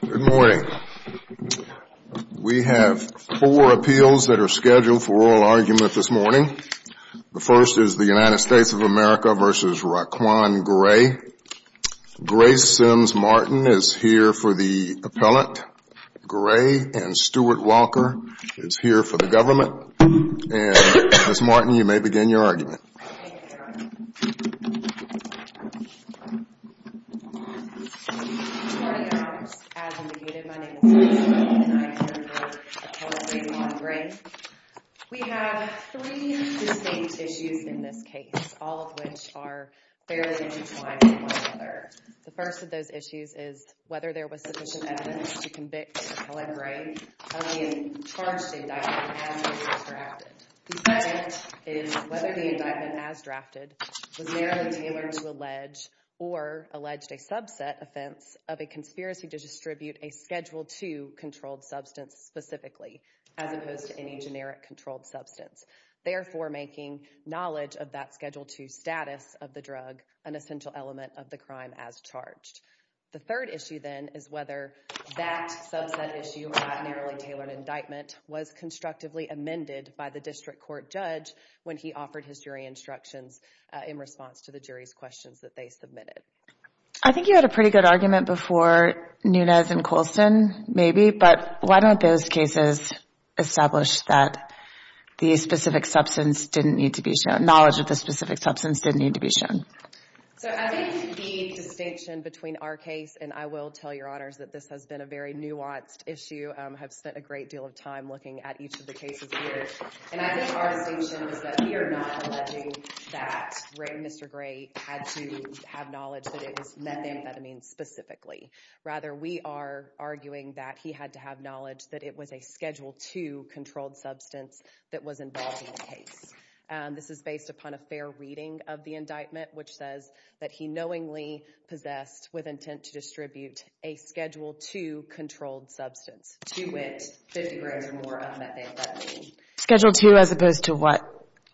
Good morning. We have four appeals that are scheduled for oral argument this morning. The first is the United States of America v. Raquan Gray. Grace Sims Martin is here for the appellate. Gray and Stuart Walker is here for the government. And Ms. Martin, you may begin your argument. Good morning, Your Honor. As indicated, my name is Ms. Martin and I am here for appellate Raquan Gray. We have three distinct issues in this case, all of which are fairly intertwined with one another. The first of those issues is whether there was sufficient evidence to determine whether the indictment as drafted was narrowly tailored to allege or alleged a subset offense of a conspiracy to distribute a Schedule II controlled substance specifically, as opposed to any generic controlled substance, therefore making knowledge of that Schedule II status of the drug an essential element of the crime as charged. The third issue, then, is whether that subset issue or that narrowly tailored indictment was constructively amended by the district court judge when he offered his jury instructions in response to the jury's questions that they submitted. I think you had a pretty good argument before Nunez and Colson, maybe, but why don't those cases establish that the specific substance didn't need to be shown, knowledge of the specific substance didn't need to be shown? So I think the distinction between our case, and I will tell Your Honors that this has been a very nuanced issue, I have spent a great deal of time looking at each of the cases here, and I think our distinction is that we are not alleging that Mr. Gray had to have knowledge that it was methamphetamine specifically. Rather, we are arguing that he had to have knowledge that it was a Schedule II controlled substance that was involved in the case. This is based upon a fair reading of the indictment, which says that he knowingly possessed with intent to distribute a Schedule II controlled substance to wit, 50 grams or more of methamphetamine. Schedule II as opposed to what?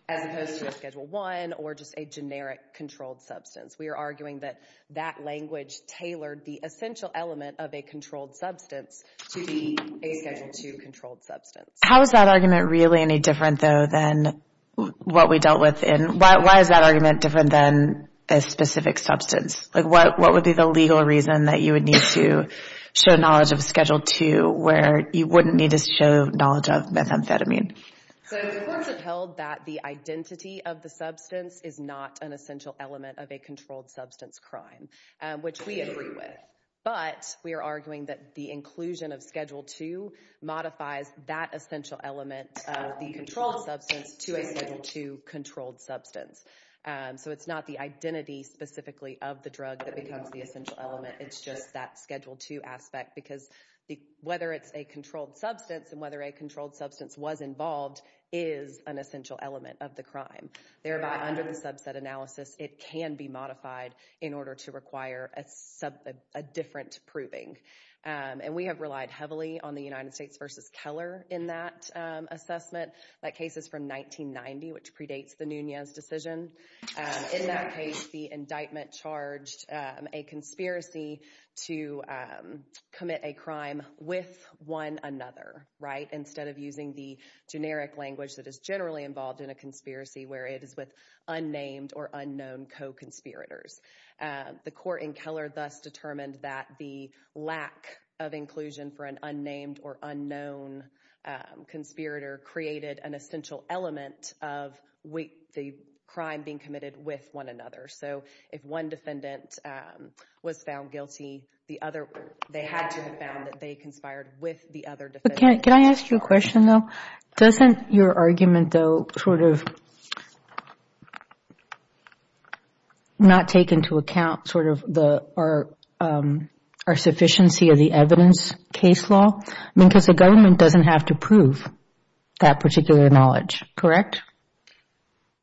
As opposed to a Schedule I or just a generic controlled substance. We are arguing that that language tailored the essential element of a controlled substance to be a Schedule II controlled substance. How is that argument really any different, though, than what we dealt with in, why is that argument different than a specific substance? What would be the legal reason that you would need to show knowledge of Schedule II where you wouldn't need to show knowledge of methamphetamine? The courts have held that the identity of the substance is not an essential element of a controlled substance crime, which we agree with, but we are arguing that the inclusion of Schedule II modifies that essential element of the controlled substance to a Schedule II controlled substance. So it's not the identity specifically of the drug that becomes the essential element, it's just that Schedule II aspect, because whether it's a controlled substance and whether a controlled substance was involved is an essential element of the crime. Thereby, under the subset analysis, it can be modified in order to require a different proving. And we have relied heavily on the United States v. Keller in that assessment. That case is from 1990, which predates the Nunez decision. In that case, the indictment charged a conspiracy to commit a crime with one another, right, instead of using the generic language that is generally involved in a conspiracy, where it is with unnamed or unknown co-conspirators. The court in Keller thus determined that the lack of inclusion for an unnamed or unknown conspirator created an essential element of the crime being committed with one another. So if one defendant was found guilty, they had to have found that they conspired with the other defendant. Can I ask you a question, though? Doesn't your argument, though, sort of not take into account the evidence case law? I mean, because the government doesn't have to prove that particular knowledge, correct?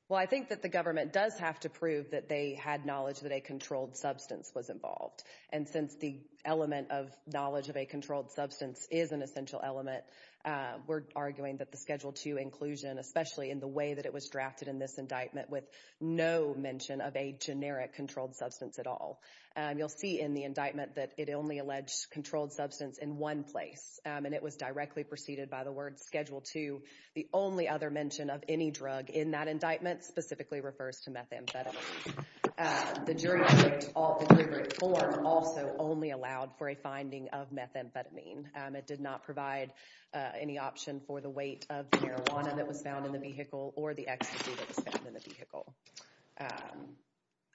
Well, I think that the government does have to prove that they had knowledge that a controlled substance was involved. And since the element of knowledge of a controlled substance is an essential element, we're arguing that the Schedule II inclusion, especially in the way that it was drafted in this indictment with no mention of a generic controlled substance at all. And you'll see in the indictment that it only alleged controlled substance in one place, and it was directly preceded by the word Schedule II. The only other mention of any drug in that indictment specifically refers to methamphetamine. The jury's deliberate form also only allowed for a finding of methamphetamine. It did not provide any option for the weight of the marijuana that was found in the vehicle or the ecstasy that was found in the vehicle.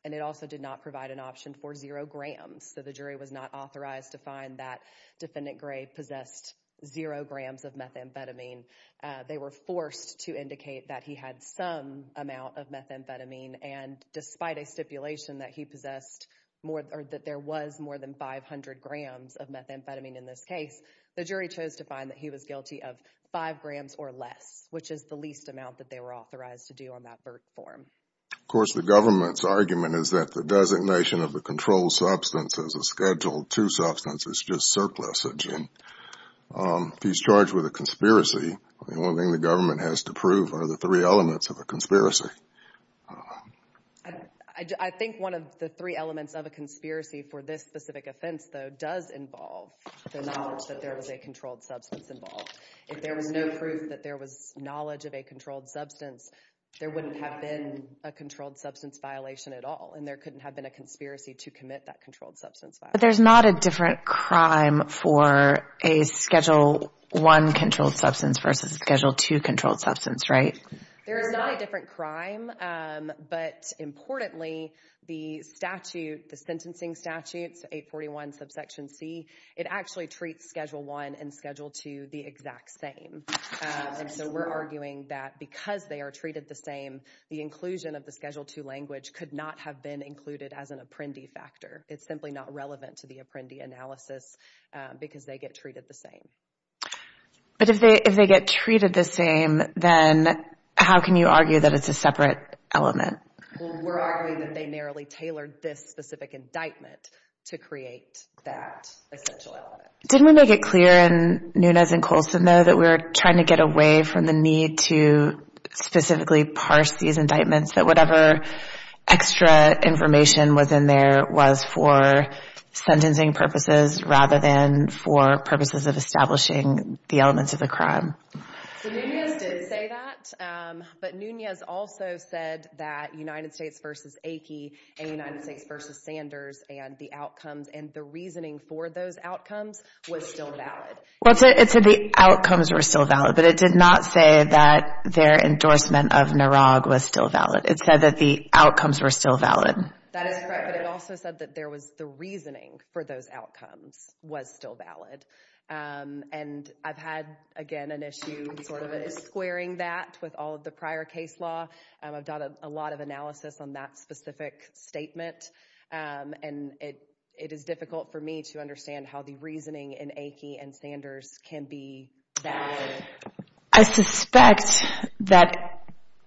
And it also did not provide an option for zero grams. So the jury was not authorized to find that Defendant Gray possessed zero grams of methamphetamine. They were forced to indicate that he had some amount of methamphetamine, and despite a stipulation that he possessed more, or that there was more than 500 grams of methamphetamine in this case, the jury chose to find that he was guilty of five grams or less, which is the least amount that they were authorized to do on that Berk form. Of course, the government's argument is that the designation of the controlled substance as a Schedule II substance is just surplusage. If he's charged with a conspiracy, the only thing the government has to prove are the three elements of a conspiracy. I think one of the three elements of a conspiracy for this specific offense, though, does involve the knowledge that there was a controlled substance involved. If there was no proof that there was knowledge of a controlled substance, there wouldn't have been a controlled substance violation at all, and there couldn't have been a conspiracy to commit that controlled substance violation. But there's not a different crime for a Schedule I controlled substance versus a Schedule II controlled substance, right? There is not a different crime, but importantly, the statute, the sentencing statute, 841 subsection C, it actually treats Schedule I and Schedule II the exact same. And so we're arguing that because they are treated the same, the inclusion of the Schedule II language could not have been included as an apprendee factor. It's simply not relevant to the apprendee analysis because they get treated the same. But if they get treated the same, then how can you argue that it's a separate element? Well, we're arguing that they narrowly tailored this specific indictment to create that essential element. Didn't we make it clear in Nunez and Colson, though, that we were trying to get away from the need to specifically parse these indictments, that whatever extra information was in there was for sentencing purposes rather than for purposes of establishing the elements of the crime? So Nunez did say that, but Nunez also said that United States v. Aki and United States v. Sanders and the outcomes and the reasoning for those outcomes was still valid. Well, it said the outcomes were still valid, but it did not say that their endorsement of Narog was still valid. It said that the outcomes were still valid. That is correct, but it also said that there was the reasoning for those outcomes was still squaring that with all of the prior case law. I've done a lot of analysis on that specific statement, and it is difficult for me to understand how the reasoning in Aki and Sanders can be valid. I suspect that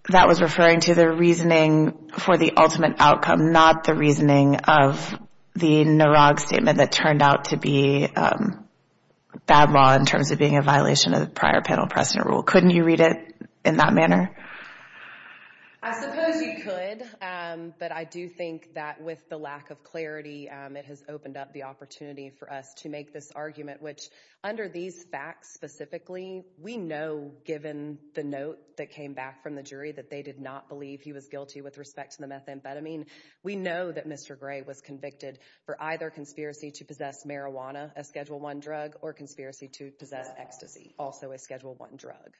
that was referring to the reasoning for the ultimate outcome, not the reasoning of the Narog statement that turned out to be bad law in terms of being a violation of the prior panel precedent rule. Couldn't you read it in that manner? I suppose you could, but I do think that with the lack of clarity, it has opened up the opportunity for us to make this argument, which under these facts specifically, we know given the note that came back from the jury that they did not believe he was guilty with respect to the methamphetamine, we know that Mr. Gray was convicted for either conspiracy to possess marijuana, a Schedule 1 drug, or conspiracy to possess ecstasy, also a Schedule 1 drug.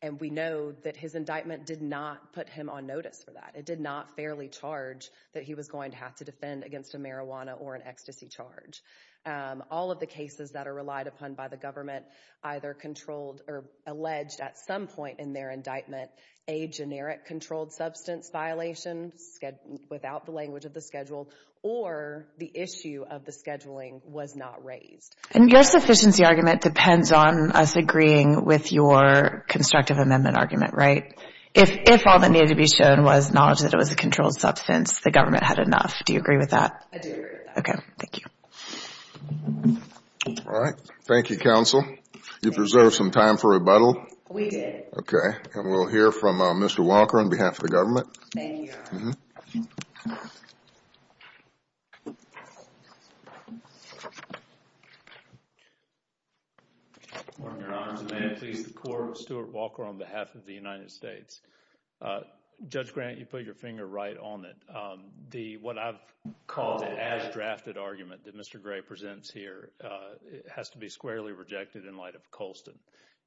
And we know that his indictment did not put him on notice for that. It did not fairly charge that he was going to have to defend against a marijuana or an ecstasy charge. All of the cases that are relied upon by the government either controlled or alleged at some point in their indictment a generic controlled substance violation without the language of the Schedule or the issue of the scheduling was not raised. And your sufficiency argument depends on us agreeing with your constructive amendment argument, right? If all that needed to be shown was knowledge that it was a controlled substance, the government had enough. Do you agree with that? I do agree with that. Okay. Thank you. All right. Thank you, counsel. You preserved some time for rebuttal. We did. Okay. And we'll hear from Mr. Walker on behalf of the government. Thank you, Your Honor. Thank you. Your Honor, may it please the Court, Stuart Walker on behalf of the United States. Judge Grant, you put your finger right on it. What I've called an as drafted argument that Mr. Gray presents here has to be squarely rejected in light of Colston.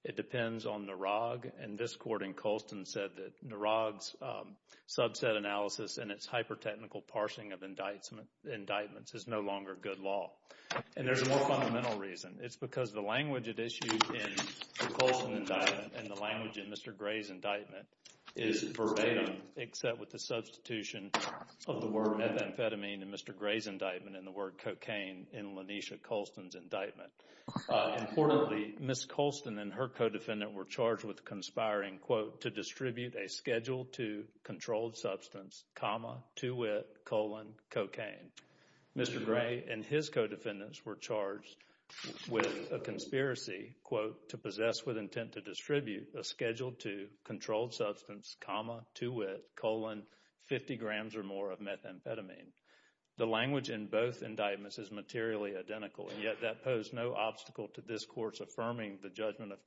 It depends on Narag, and this Court in Colston said that Narag's subset analysis and its hypertechnical parsing of indictments is no longer good law. And there's a more fundamental reason. It's because the language at issue in the Colston indictment and the language in Mr. Gray's indictment is verbatim except with the substitution of the word methamphetamine in Mr. Gray's indictment and the word cocaine in LaNesha Colston's indictment. Importantly, Ms. Colston and her co-defendant were charged with conspiring, quote, to distribute a Schedule II controlled substance, comma, to wit, colon, cocaine. Mr. Gray and his co-defendants were charged with a conspiracy, quote, to possess with intent to distribute a Schedule II controlled substance, comma, to wit, colon, 50 grams or more of methamphetamine. The language in both indictments is materially identical, and yet that posed no obstacle to this Court's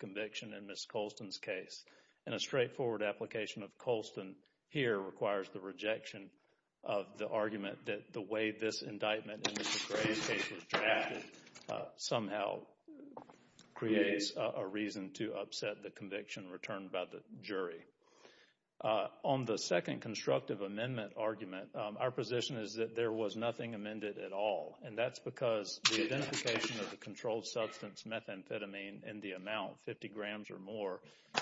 conviction in Ms. Colston's case. And a straightforward application of Colston here requires the rejection of the argument that the way this indictment in Mr. Gray's case was drafted somehow creates a reason to upset the conviction returned by the jury. On the second constructive amendment argument, our position is that there was nothing amended at all, and that's because the identification of the controlled substance methamphetamine in the amount, 50 grams or more,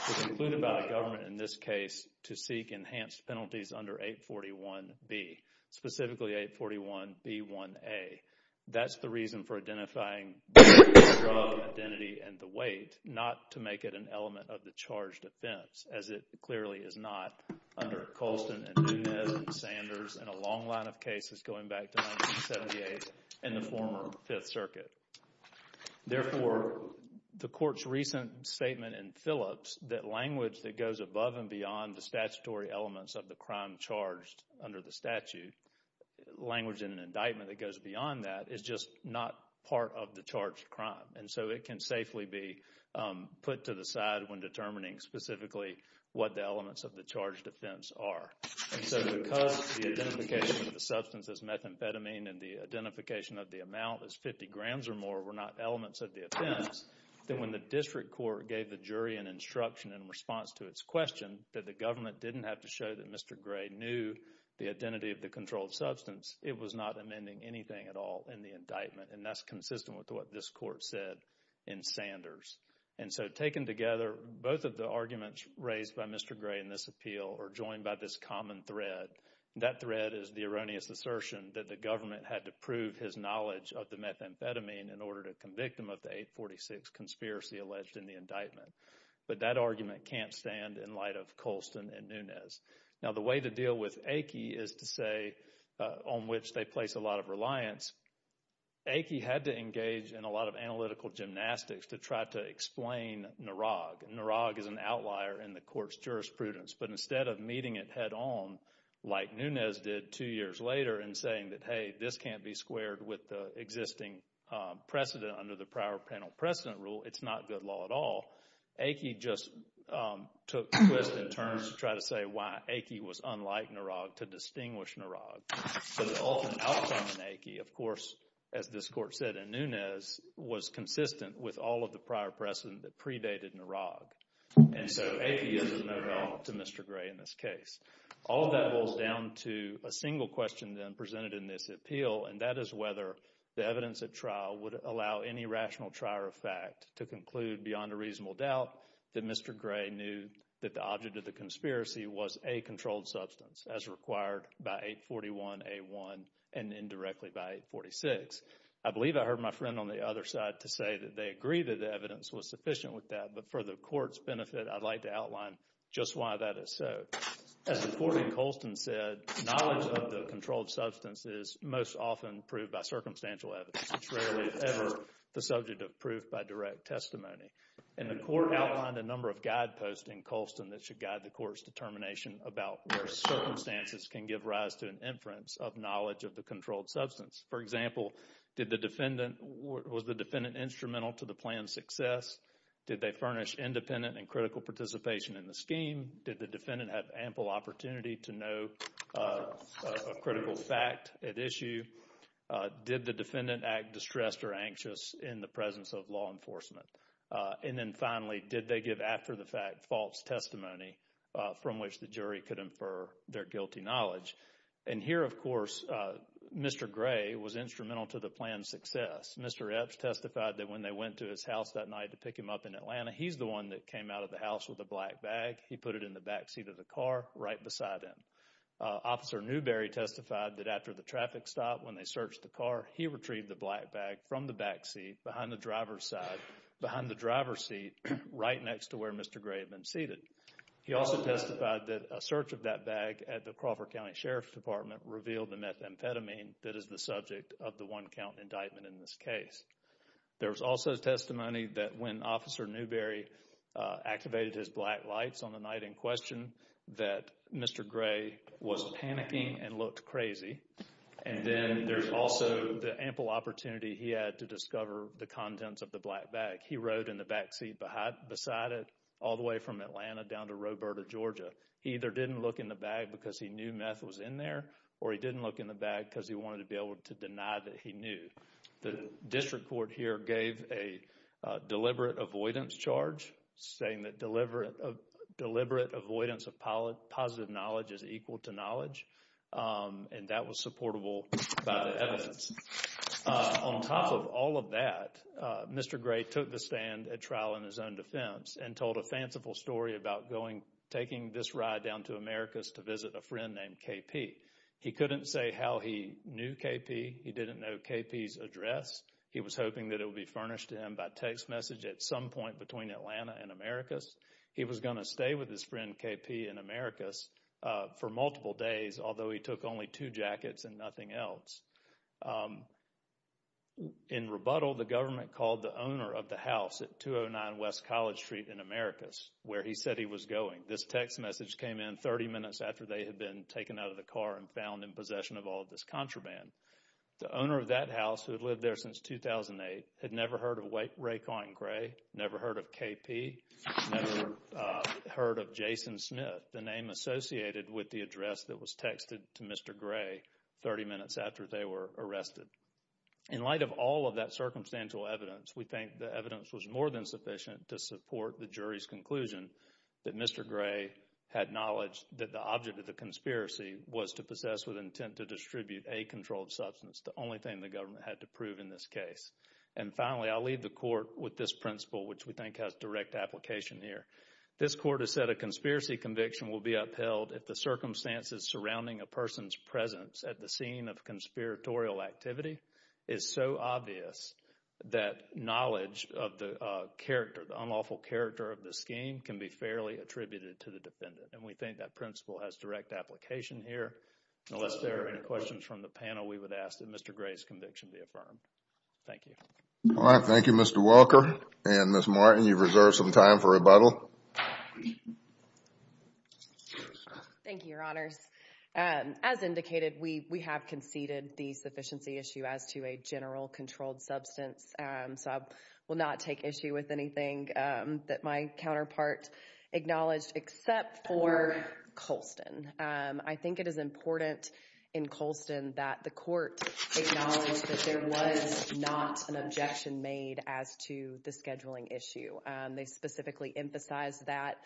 was included by the government in this case to seek enhanced penalties under 841B, specifically 841B1A. That's the reason for identifying the drug, identity, and the weight, not to make it an element of the charged offense, as it clearly is not under Colston and Nunez and Sanders in a long line of cases going back to 1978 and the former Fifth Circuit. Therefore, the Court's recent statement in Phillips that language that goes above and beyond the statutory elements of the crime charged under the statute, language in an indictment that goes beyond that, is just not part of the charged crime, and so it can safely be put to the side when determining specifically what the elements of the charged offense are. And so because the identification of the substance as methamphetamine and the identification of the amount as 50 grams or more were not elements of the offense, then when the District Court gave the jury an instruction in response to its question that the government didn't have to show that Mr. Gray knew the identity of the controlled substance, it was not amending anything at all in the indictment, and that's consistent with what this Court said in Sanders. And so taken together, both of the arguments raised by Mr. Gray in this appeal are joined by this common thread, and that thread is the erroneous assertion that the government had to prove his knowledge of the methamphetamine in order to convict him of the 846 conspiracy alleged in the indictment. But that argument can't stand in light of Colston and Nunez. Now, the way to deal with Aikie is to say, on which they place a lot of reliance, Aikie had to engage in a lot of analytical gymnastics to try to explain Narog. Narog is an outlier in the Court's jurisprudence, but instead of meeting it head-on like Nunez did two years later and saying that, hey, this can't be squared with the existing precedent under the prior panel precedent rule, it's not good law at all, Aikie just took a twist and turn to try to say why Aikie was unlike Narog, to distinguish Narog. So the ultimate outcome in Aikie, of course, as this Court said in Nunez, was consistent with all of the prior precedent that predated Narog. And so Aikie is of no help to Mr. Gray in this case. All of that boils down to a single question then presented in this appeal, and that is whether the evidence at trial would allow any rational trier of fact to conclude beyond a reasonable doubt that Mr. Gray knew that the object of the conspiracy was a controlled substance, as required by 841A1 and indirectly by 846. I believe I heard my friend on the other side to say that they agree that the evidence was sufficient with that, but for the Court's benefit, I'd like to outline just why that is so. As the Court in Colston said, knowledge of the controlled substance is most often proved by circumstantial evidence. It's rarely ever the subject of proof by direct testimony. And the Court outlined a number of guideposts in Colston that should guide the Court's determination about where circumstances can give rise to an inference of knowledge of the controlled substance. For example, was the defendant instrumental to the plan's success? Did they furnish independent and critical participation in the scheme? Did the defendant have ample opportunity to know a critical fact at issue? Did the defendant act distressed or anxious in the presence of law enforcement? And then finally, did they give after the fact false testimony from which the jury could infer their guilty knowledge? And here, of course, Mr. Gray was instrumental to the plan's success. Mr. Epps testified that when they went to his house that night to pick him up in Atlanta, he's the one that came out of the house with the black bag. He put it in the backseat of the car right beside him. Officer Newberry testified that after the traffic stopped when they searched the car, he retrieved the black bag from the backseat behind the driver's side, behind the driver's seat, right next to where Mr. Gray had been seated. He also testified that a search of that bag at the Crawford County Sheriff's Department revealed the methamphetamine that is the subject of the one count indictment in this case. There was also testimony that when Officer Newberry activated his black lights on the night in question, that Mr. Gray was panicking and looked crazy. And then there's also the ample opportunity he had to discover the contents of the black bag. He rode in the backseat beside it all the way from Atlanta down to Roberta, Georgia. He either didn't look in the bag because he knew meth was in there, or he didn't look in the bag because he wanted to be able to deny that he knew. The district court here gave a deliberate avoidance charge, saying that deliberate avoidance of positive knowledge is equal to knowledge. And that was supportable by the evidence. On top of all of that, Mr. Gray took a stand at trial in his own defense and told a fanciful story about taking this ride down to Americas to visit a friend named KP. He couldn't say how he knew KP. He didn't know KP's address. He was hoping that it would be furnished to him by text message at some point between Atlanta and Americas. He was going to stay with his friend KP in Americas for multiple days, although he took only two jackets and nothing else. In rebuttal, the owner of the house at 209 West College Street in Americas, where he said he was going, this text message came in 30 minutes after they had been taken out of the car and found in possession of all of this contraband. The owner of that house, who had lived there since 2008, had never heard of Ray Quanton Gray, never heard of KP, never heard of Jason Smith, the name associated with the address that was texted to Mr. Gray 30 minutes after they were arrested. In light of all of that circumstantial evidence, we think the evidence was more than sufficient to support the jury's conclusion that Mr. Gray had knowledge that the object of the conspiracy was to possess with intent to distribute a controlled substance, the only thing the government had to prove in this case. And finally, I'll leave the court with this principle, which we think has direct application here. This court has said a conspiracy conviction will be upheld if the circumstances surrounding a person's presence at the scene of conspiratorial activity is so obvious that knowledge of the character, the unlawful character of the scheme can be fairly attributed to the defendant. And we think that principle has direct application here. Unless there are any questions from the panel, we would ask that Mr. Gray's conviction be affirmed. Thank you. All right. Thank you, Mr. Welker. And Ms. Martin, you've reserved some time for rebuttal. Thank you, Your Honors. As indicated, we have conceded the sufficiency issue as to a general controlled substance, so I will not take issue with anything that my counterpart acknowledged except for Colston. I think it is important in Colston that the court acknowledge that there was not an objection made as to the scheduling issue. They specifically emphasized that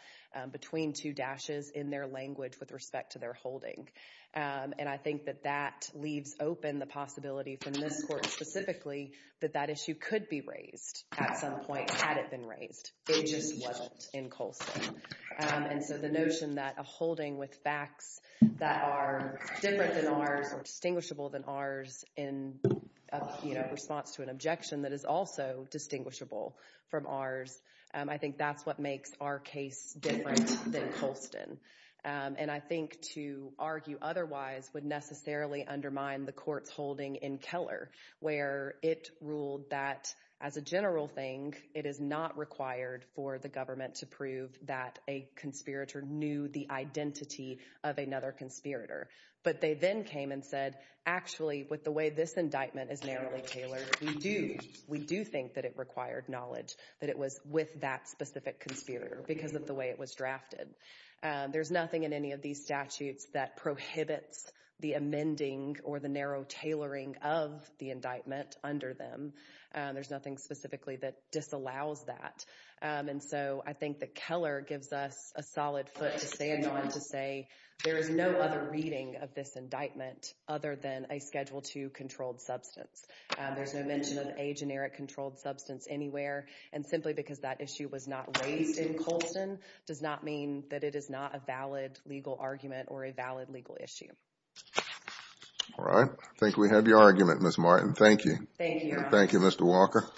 between two dashes in their language with respect to their holding. And I think that that leaves open the possibility from this court specifically that that issue could be raised at some point had it been raised. It just wasn't in Colston. And so the notion that a holding with facts that are different than ours or distinguishable than ours in response to an objection that is also distinguishable from ours, I think that's what makes our case different than Colston. And I think to argue otherwise would necessarily undermine the court's holding in Keller, where it ruled that as a general thing, it is not required for the government to prove that a conspirator knew the identity of another conspirator. But they then came and said, actually, with the way this indictment is narrowly tailored, we do think that it required knowledge that it was with that specific conspirator because of the way it was drafted. There's nothing in any of these statutes that prohibits the amending or the narrow tailoring of the indictment under them. There's nothing specifically that disallows that. And so I think that Keller gives us a solid foot to stand on to say there is no other reading of this indictment other than a Schedule II controlled substance. There's no mention of a generic controlled substance anywhere. And simply because that issue was not raised in Colston does not mean that it is not a valid legal argument or a valid legal issue. All right. I think we have your argument, Ms. Martin. Thank you. Thank you, Your Honor. Thank you, Mr. Walker.